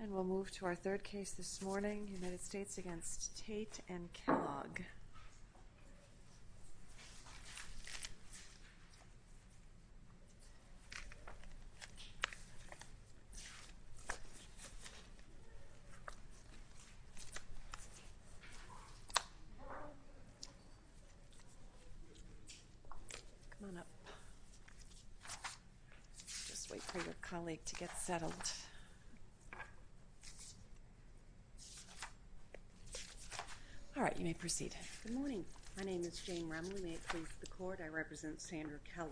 And we'll move to our third case this morning, United States v. Tate and Kellogg. Come on up and just wait for your colleague to get settled. All right, you may proceed. Good morning. My name is Jane Remley. May it please the court, I represent Sandra Kellogg.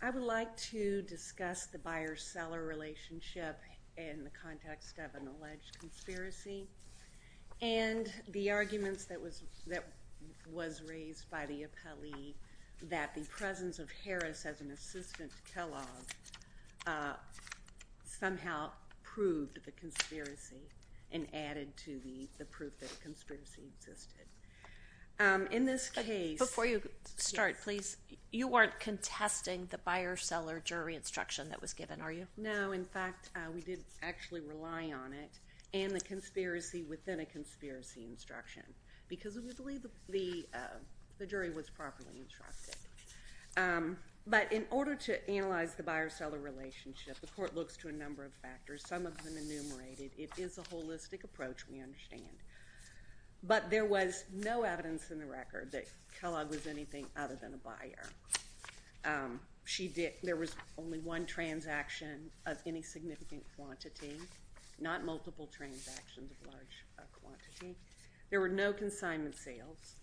I would like to discuss the buyer-seller relationship in the context of an alleged conspiracy and the arguments that was raised by the appellee that the presence of Harris as an assistant to Kellogg somehow proved the conspiracy and added to the proof that the conspiracy existed. In this case – Before you start, please, you weren't contesting the buyer-seller jury instruction that was given, are you? No, in fact, we did actually rely on it and the conspiracy within a conspiracy instruction because we believe the jury was properly instructed. But in order to analyze the buyer-seller relationship, the court looks to a number of factors, some of them enumerated. It is a holistic approach, we understand. But there was no evidence in the record that Kellogg was anything other than a buyer. There was only one transaction of any significant quantity, not multiple transactions of large quantity. There were no consignment sales.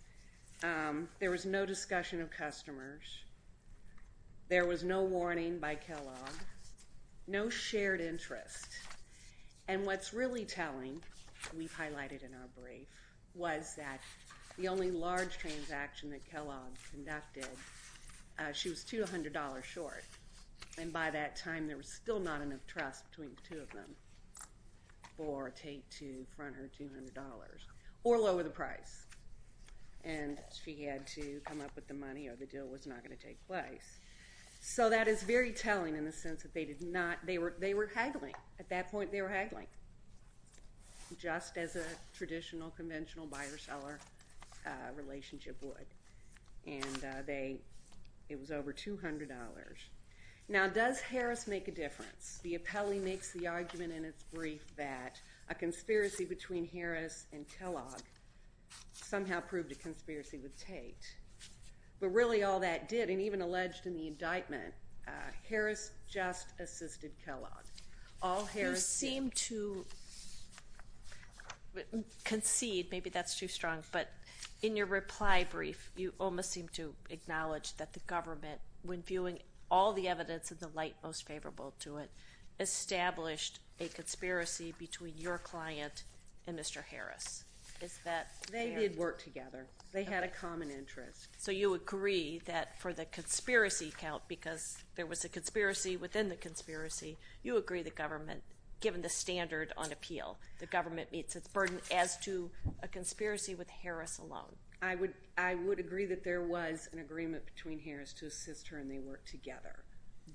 There was no discussion of customers. There was no warning by Kellogg, no shared interest. And what's really telling, we've highlighted in our brief, was that the only large transaction that Kellogg conducted, she was $200 short. And by that time, there was still not enough trust between the two of them for Tate to front her $200 or lower the price. And she had to come up with the money or the deal was not going to take place. So that is very telling in the sense that they were haggling. At that point, they were haggling just as a traditional, conventional buyer-seller relationship would. And it was over $200. Now, does Harris make a difference? The appellee makes the argument in its brief that a conspiracy between Harris and Kellogg somehow proved a conspiracy with Tate. But really all that did, and even alleged in the indictment, Harris just assisted Kellogg. You seem to concede, maybe that's too strong, but in your reply brief, you almost seem to acknowledge that the government, when viewing all the evidence in the light most favorable to it, established a conspiracy between your client and Mr. Harris. Is that fair? They did work together. They had a common interest. So you agree that for the conspiracy count, because there was a conspiracy within the conspiracy, you agree the government, given the standard on appeal, the government meets its burden as to a conspiracy with Harris alone. I would agree that there was an agreement between Harris to assist her and they worked together.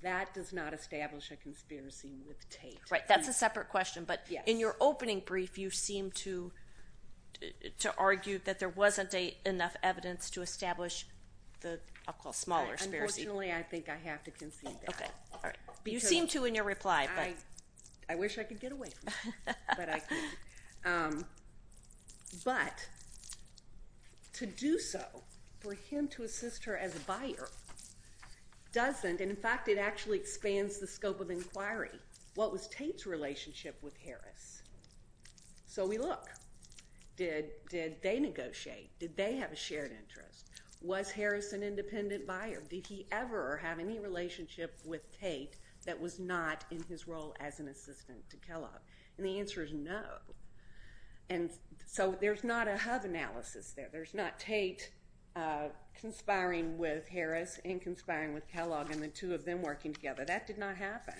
That does not establish a conspiracy with Tate. Right, that's a separate question. But in your opening brief, you seem to argue that there wasn't enough evidence to establish the smaller conspiracy. Unfortunately, I think I have to concede that. You seem to in your reply. I wish I could get away from that, but I couldn't. But to do so for him to assist her as a buyer doesn't, and in fact it actually expands the scope of inquiry, what was Tate's relationship with Harris? So we look. Did they negotiate? Did they have a shared interest? Was Harris an independent buyer? Did he ever have any relationship with Tate that was not in his role as an assistant to Kellogg? And the answer is no. And so there's not a hub analysis there. There's not Tate conspiring with Harris and conspiring with Kellogg and the two of them working together. That did not happen.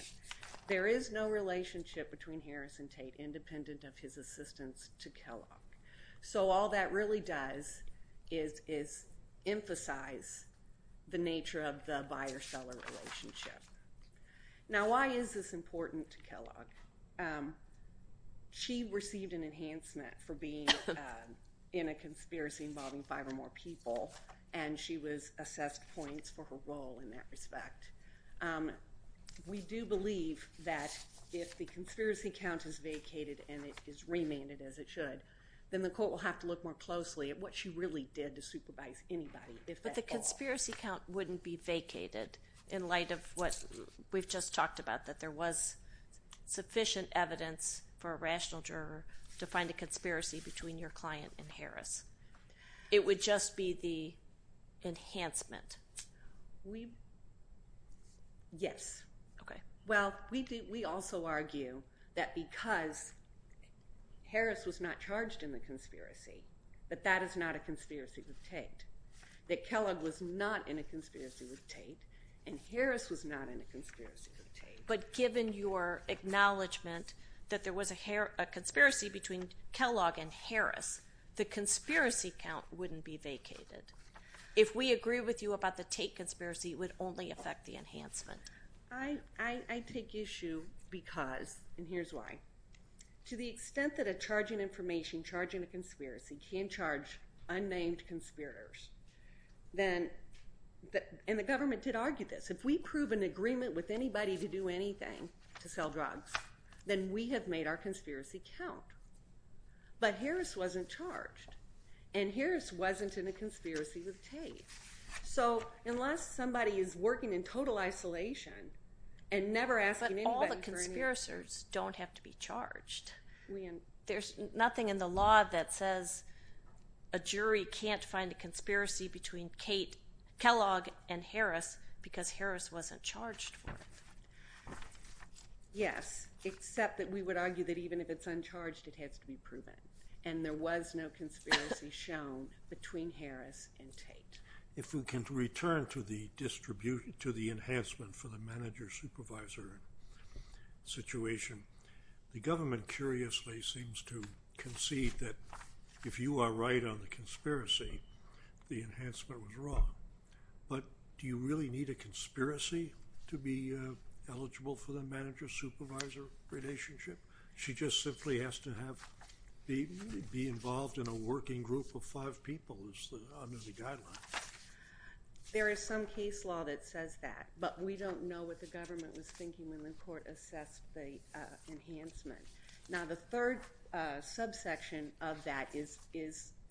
There is no relationship between Harris and Tate independent of his assistance to Kellogg. So all that really does is emphasize the nature of the buyer-seller relationship. Now why is this important to Kellogg? She received an enhancement for being in a conspiracy involving five or more people, and she was assessed points for her role in that respect. We do believe that if the conspiracy count is vacated and it is remanded as it should, then the court will have to look more closely at what she really did to supervise anybody if at all. But the conspiracy count wouldn't be vacated in light of what we've just talked about, that there was sufficient evidence for a rational juror to find a conspiracy between your client and Harris. It would just be the enhancement. Yes. Okay. Well, we also argue that because Harris was not charged in the conspiracy, that that is not a conspiracy with Tate, that Kellogg was not in a conspiracy with Tate, and Harris was not in a conspiracy with Tate. But given your acknowledgment that there was a conspiracy between Kellogg and Harris, the conspiracy count wouldn't be vacated. If we agree with you about the Tate conspiracy, it would only affect the enhancement. I take issue because, and here's why. To the extent that a charge in information, charge in a conspiracy, can charge unnamed conspirators, and the government did argue this, if we prove an agreement with anybody to do anything to sell drugs, then we have made our conspiracy count. But Harris wasn't charged, and Harris wasn't in a conspiracy with Tate. So unless somebody is working in total isolation and never asking anybody for anything. But all the conspirators don't have to be charged. There's nothing in the law that says a jury can't find a conspiracy between Kellogg and Harris because Harris wasn't charged for it. Yes, except that we would argue that even if it's uncharged, it has to be proven. And there was no conspiracy shown between Harris and Tate. If we can return to the enhancement for the manager-supervisor situation, the government curiously seems to concede that if you are right on the conspiracy, the enhancement was wrong. But do you really need a conspiracy to be eligible for the manager-supervisor relationship? She just simply has to be involved in a working group of five people under the guidelines. There is some case law that says that, but we don't know what the government was thinking when the court assessed the enhancement. Now, the third subsection of that is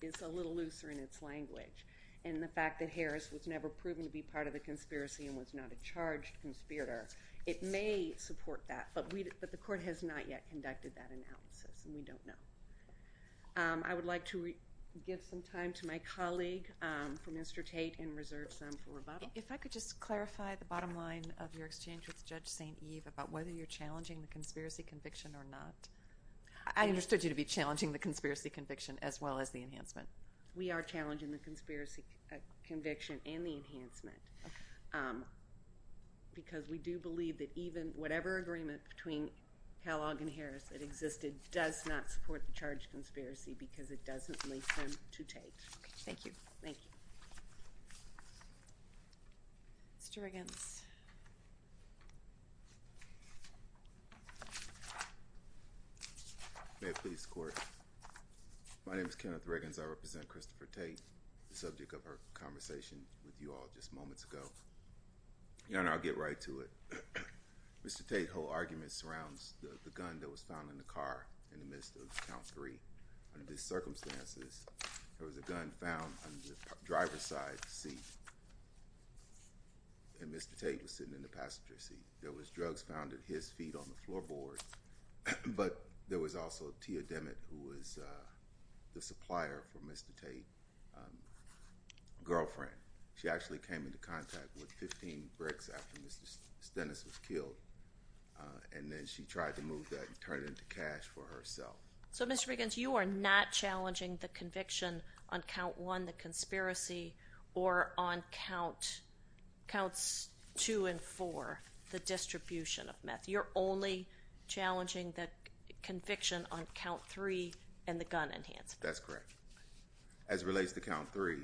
a little looser in its language, and the fact that Harris was never proven to be part of the conspiracy and was not a charged conspirator. It may support that, but the court has not yet conducted that analysis, and we don't know. I would like to give some time to my colleague from Mr. Tate and reserve some for rebuttal. If I could just clarify the bottom line of your exchange with Judge St. Eve about whether you're challenging the conspiracy conviction or not. I understood you to be challenging the conspiracy conviction as well as the enhancement. We are challenging the conspiracy conviction and the enhancement because we do believe that even whatever agreement between Kellogg and Harris that existed does not support the charged conspiracy because it doesn't leave them to Tate. Thank you. Thank you. Mr. Riggins. May it please the court. My name is Kenneth Riggins. I represent Christopher Tate, the subject of our conversation with you all just moments ago. And I'll get right to it. Mr. Tate's whole argument surrounds the gun that was found in the car in the midst of count three. Under these circumstances, there was a gun found on the driver's side seat, and Mr. Tate was sitting in the passenger seat. There was drugs found at his feet on the floorboard, but there was also Tia Demmitt who was the supplier for Mr. Tate's girlfriend. She actually came into contact with 15 bricks after Mr. Stennis was killed, and then she tried to move that and turn it into cash for herself. So, Mr. Riggins, you are not challenging the conviction on count one, the conspiracy, or on counts two and four, the distribution of meth. You're only challenging the conviction on count three and the gun enhancement. That's correct. As it relates to count three,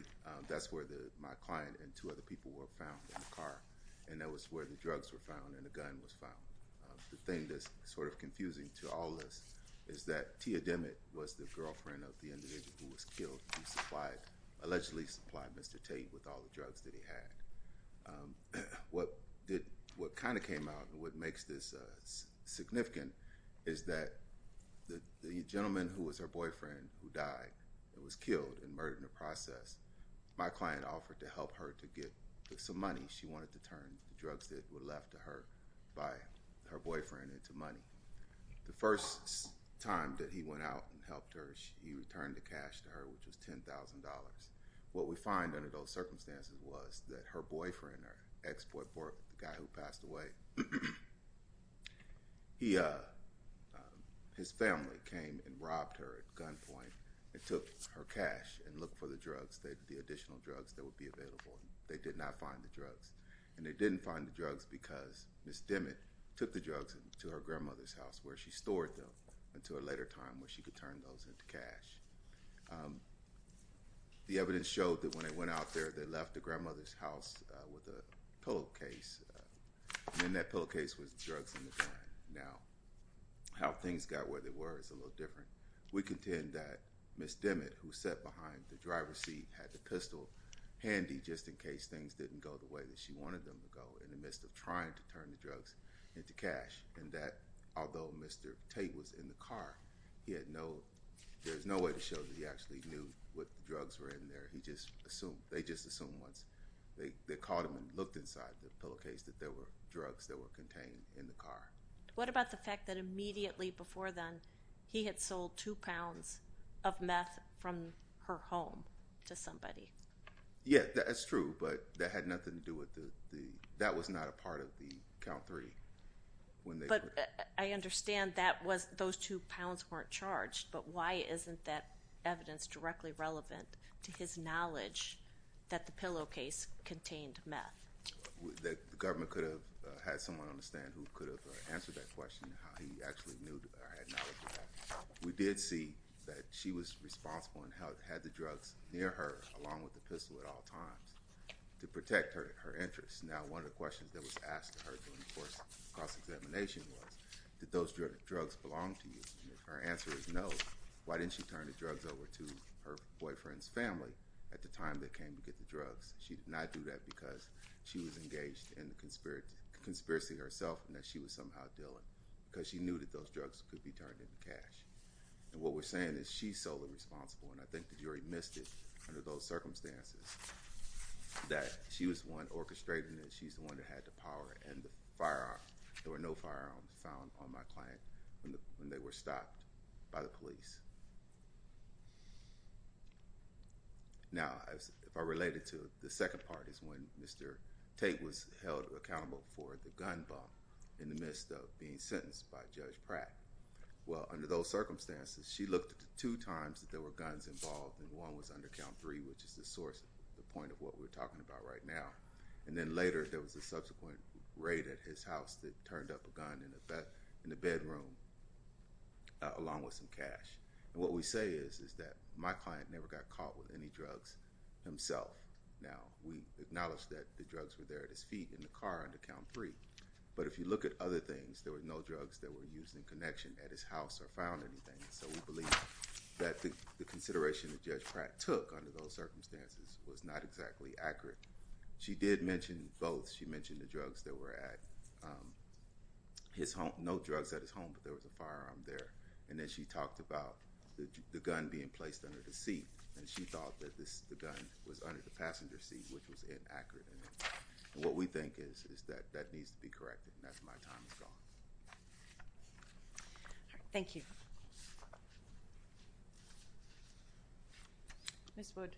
that's where my client and two other people were found in the car, and that was where the drugs were found and the gun was found. The thing that's sort of confusing to all of us is that Tia Demmitt was the girlfriend of the individual who was killed who allegedly supplied Mr. Tate with all the drugs that he had. What kind of came out and what makes this significant is that the gentleman who was her boyfriend who died and was killed and murdered in the process, my client offered to help her to get some money. She wanted to turn the drugs that were left to her by her boyfriend into money. The first time that he went out and helped her, he returned the cash to her, which was $10,000. What we find under those circumstances was that her boyfriend, her ex-boyfriend, the guy who passed away, his family came and robbed her at gunpoint and took her cash and looked for the drugs, the additional drugs that would be available. They did not find the drugs, and they didn't find the drugs because Ms. Demmitt took the drugs to her grandmother's house where she stored them until a later time where she could turn those into cash. The evidence showed that when they went out there, they left the grandmother's house with a pillowcase, and in that pillowcase was the drugs and the gun. Now, how things got where they were is a little different. We contend that Ms. Demmitt, who sat behind the driver's seat, had the pistol handy just in case things didn't go the way that she wanted them to go in the midst of trying to turn the drugs into cash, and that although Mr. Tate was in the car, there was no way to show that he actually knew what drugs were in there. They just assumed once they caught him and looked inside the pillowcase that there were drugs that were contained in the car. What about the fact that immediately before then, he had sold two pounds of meth from her home to somebody? Yeah, that's true, but that had nothing to do with the—that was not a part of the count three when they were— But I understand that was—those two pounds weren't charged, but why isn't that evidence directly relevant to his knowledge that the pillowcase contained meth? The government could have had someone on the stand who could have answered that question, how he actually knew or had knowledge of that. We did see that she was responsible and had the drugs near her along with the pistol at all times to protect her interests. Now, one of the questions that was asked to her during the course of cross-examination was, did those drugs belong to you? And if her answer is no, why didn't she turn the drugs over to her boyfriend's family at the time they came to get the drugs? She did not do that because she was engaged in the conspiracy herself and that she was somehow dealing, because she knew that those drugs could be turned into cash. And what we're saying is she's solely responsible, and I think the jury missed it under those circumstances, that she was the one orchestrating it. She's the one that had the power and the firearm. There were no firearms found on my client when they were stopped by the police. Now, if I relate it to the second part is when Mr. Tate was held accountable for the gun bump in the midst of being sentenced by Judge Pratt. Well, under those circumstances, she looked at the two times that there were guns involved, and one was under count three, which is the point of what we're talking about right now. And then later, there was a subsequent raid at his house that turned up a gun in the bedroom along with some cash. And what we say is that my client never got caught with any drugs himself. Now, we acknowledge that the drugs were there at his feet in the car under count three, but if you look at other things, there were no drugs that were used in connection at his house or found anything. So we believe that the consideration that Judge Pratt took under those circumstances was not exactly accurate. She did mention both. She mentioned the drugs that were at his home, no drugs at his home, but there was a firearm there. And then she talked about the gun being placed under the seat, and she thought that the gun was under the passenger seat, which was inaccurate. And what we think is that that needs to be corrected, and that's my time is gone. Thank you. Ms. Wood.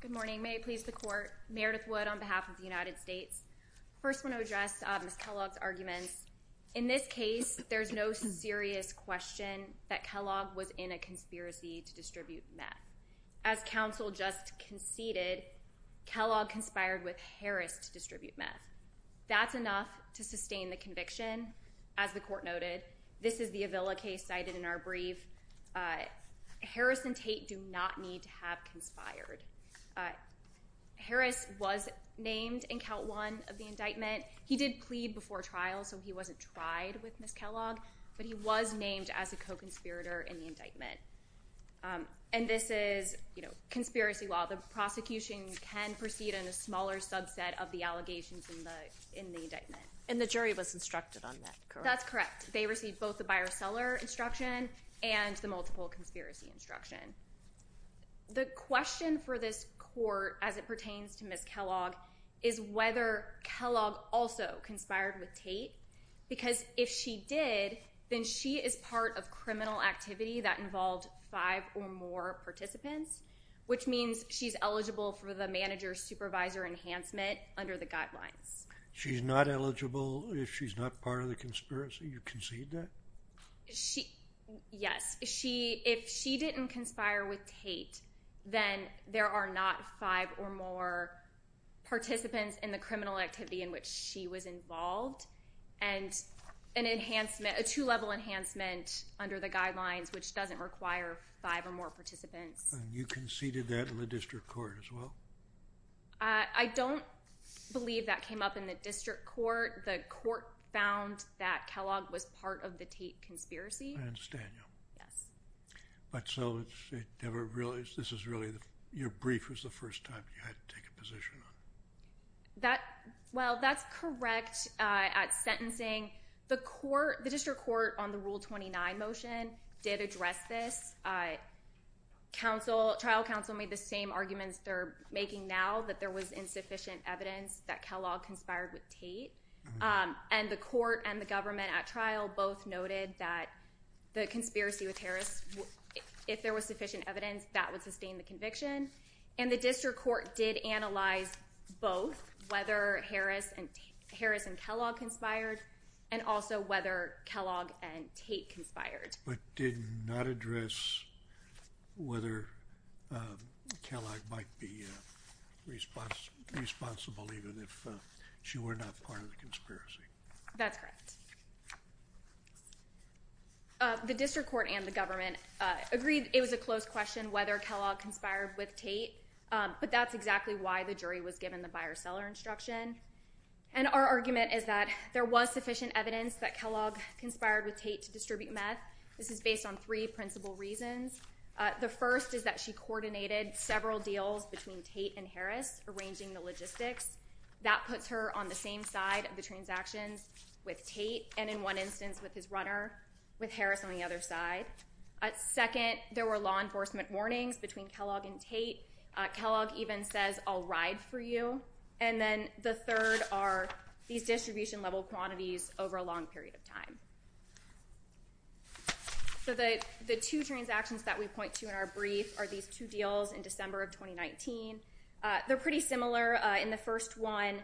Good morning. May it please the Court. Meredith Wood on behalf of the United States. First, I want to address Ms. Kellogg's arguments. In this case, there's no serious question that Kellogg was in a conspiracy to distribute meth. As counsel just conceded, Kellogg conspired with Harris to distribute meth. That's enough to sustain the conviction. As the Court noted, this is the Avila case cited in our brief. Harris and Tate do not need to have conspired. Harris was named in Count 1 of the indictment. He did plead before trial, so he wasn't tried with Ms. Kellogg, but he was named as a co-conspirator in the indictment. And this is conspiracy law. The prosecution can proceed in a smaller subset of the allegations in the indictment. And the jury was instructed on that, correct? That's correct. They received both the buyer-seller instruction and the multiple conspiracy instruction. The question for this Court, as it pertains to Ms. Kellogg, is whether Kellogg also conspired with Tate, because if she did, then she is part of criminal activity that involved five or more participants, which means she's eligible for the manager-supervisor enhancement under the guidelines. She's not eligible if she's not part of the conspiracy? You concede that? Yes. If she didn't conspire with Tate, then there are not five or more participants in the criminal activity in which she was involved, and a two-level enhancement under the guidelines, which doesn't require five or more participants. You conceded that in the District Court as well? I don't believe that came up in the District Court. The Court found that Kellogg was part of the Tate conspiracy. I understand you. Yes. But so this is really your brief was the first time you had to take a position on it? Well, that's correct at sentencing. The District Court on the Rule 29 motion did address this. Trial counsel made the same arguments they're making now, that there was insufficient evidence that Kellogg conspired with Tate, and the court and the government at trial both noted that the conspiracy with Harris, if there was sufficient evidence, that would sustain the conviction, and the District Court did analyze both whether Harris and Kellogg conspired and also whether Kellogg and Tate conspired. But did not address whether Kellogg might be responsible even if she were not part of the conspiracy. That's correct. The District Court and the government agreed it was a close question whether Kellogg conspired with Tate, but that's exactly why the jury was given the buyer-seller instruction. And our argument is that there was sufficient evidence that Kellogg conspired with Tate to distribute meth. This is based on three principal reasons. The first is that she coordinated several deals between Tate and Harris, arranging the logistics. That puts her on the same side of the transactions with Tate, and in one instance with his runner, with Harris on the other side. Second, there were law enforcement warnings between Kellogg and Tate. Kellogg even says, I'll ride for you. And then the third are these distribution-level quantities over a long period of time. So the two transactions that we point to in our brief are these two deals in December of 2019. They're pretty similar in the first one.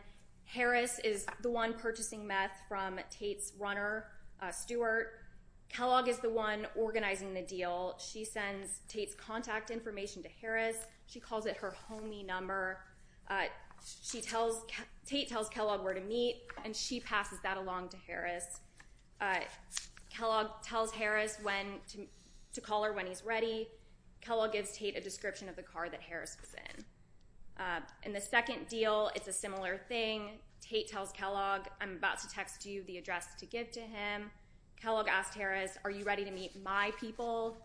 Harris is the one purchasing meth from Tate's runner, Stewart. Kellogg is the one organizing the deal. She sends Tate's contact information to Harris. She calls it her homie number. Tate tells Kellogg where to meet, and she passes that along to Harris. Kellogg tells Harris to call her when he's ready. Kellogg gives Tate a description of the car that Harris was in. In the second deal, it's a similar thing. Tate tells Kellogg, I'm about to text you the address to give to him. Kellogg asks Harris, are you ready to meet my people?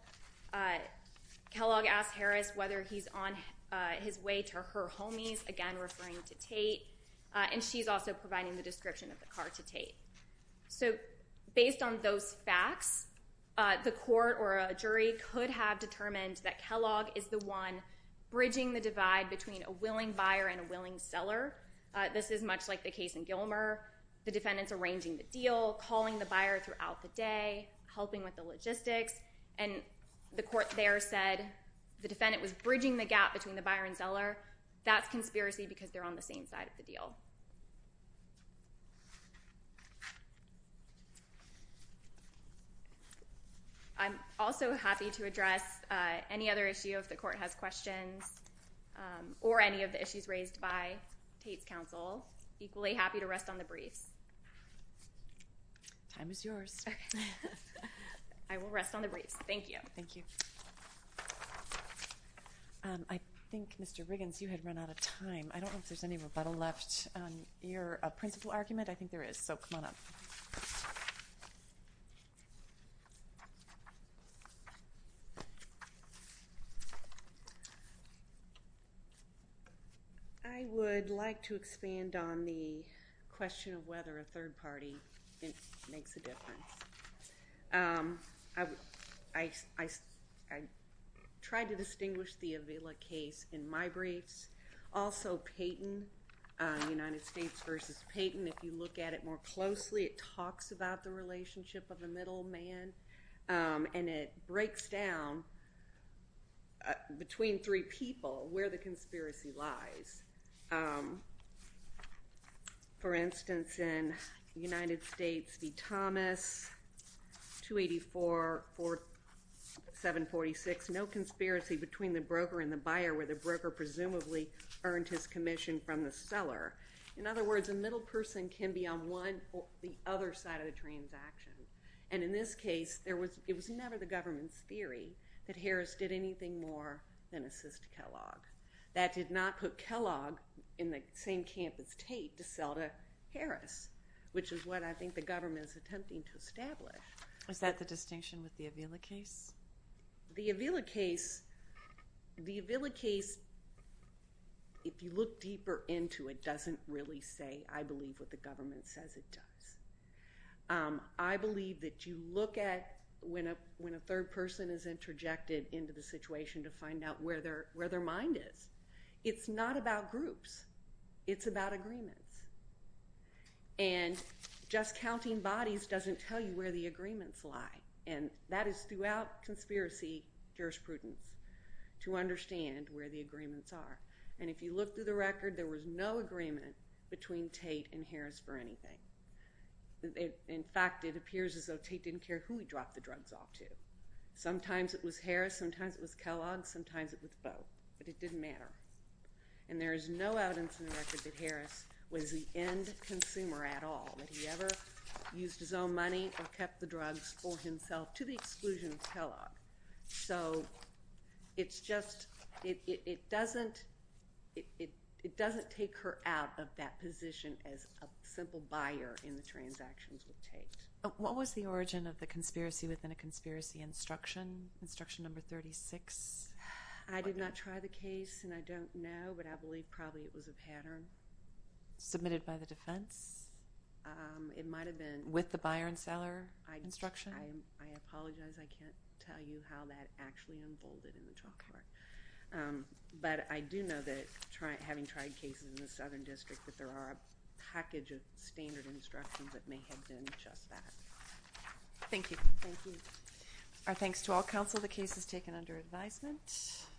Kellogg asks Harris whether he's on his way to her homie's, again referring to Tate. And she's also providing the description of the car to Tate. So based on those facts, the court or a jury could have determined that Kellogg is the one bridging the divide between a willing buyer and a willing seller. This is much like the case in Gilmer. The defendant's arranging the deal, calling the buyer throughout the day, helping with the logistics, and the court there said the defendant was bridging the gap between the buyer and seller. That's conspiracy because they're on the same side of the deal. I'm also happy to address any other issue if the court has questions or any of the issues raised by Tate's counsel. Equally happy to rest on the briefs. Time is yours. I will rest on the briefs. Thank you. Thank you. I think, Mr. Riggins, you had run out of time. I don't know if there's any rebuttal left on your principle argument. I think there is, so come on up. I would like to expand on the question of whether a third party makes a difference. I tried to distinguish the Avila case in my briefs. United States v. Payton. If you look at it more closely, it talks about the relationship of a middle man, and it breaks down between three people where the conspiracy lies. For instance, in United States v. Thomas, 284, 746, no conspiracy between the broker and the buyer where the broker presumably earned his commission from the seller. In other words, a middle person can be on one or the other side of the transaction. And in this case, it was never the government's theory that Harris did anything more than assist Kellogg. That did not put Kellogg in the same camp as Tate to sell to Harris, which is what I think the government is attempting to establish. Is that the distinction with the Avila case? The Avila case, if you look deeper into it, doesn't really say, I believe, what the government says it does. I believe that you look at when a third person is interjected into the situation to find out where their mind is. It's not about groups. It's about agreements. And just counting bodies doesn't tell you where the agreements lie. And that is throughout conspiracy jurisprudence to understand where the agreements are. And if you look through the record, there was no agreement between Tate and Harris for anything. In fact, it appears as though Tate didn't care who he dropped the drugs off to. Sometimes it was Harris. Sometimes it was Kellogg. Sometimes it was Boe. But it didn't matter. And there is no evidence in the record that Harris was the end consumer at all, that he ever used his own money or kept the drugs for himself to the exclusion of Kellogg. So it's just it doesn't take her out of that position as a simple buyer in the transactions with Tate. What was the origin of the conspiracy within a conspiracy instruction, instruction number 36? I did not try the case, and I don't know, but I believe probably it was a pattern. Submitted by the defense? It might have been. With the buyer and seller instruction? I apologize. I can't tell you how that actually unfolded in the trial court. But I do know that having tried cases in the Southern District, that there are a package of standard instructions that may have been just that. Thank you. Thank you. Our thanks to all counsel. The case is taken under advisement.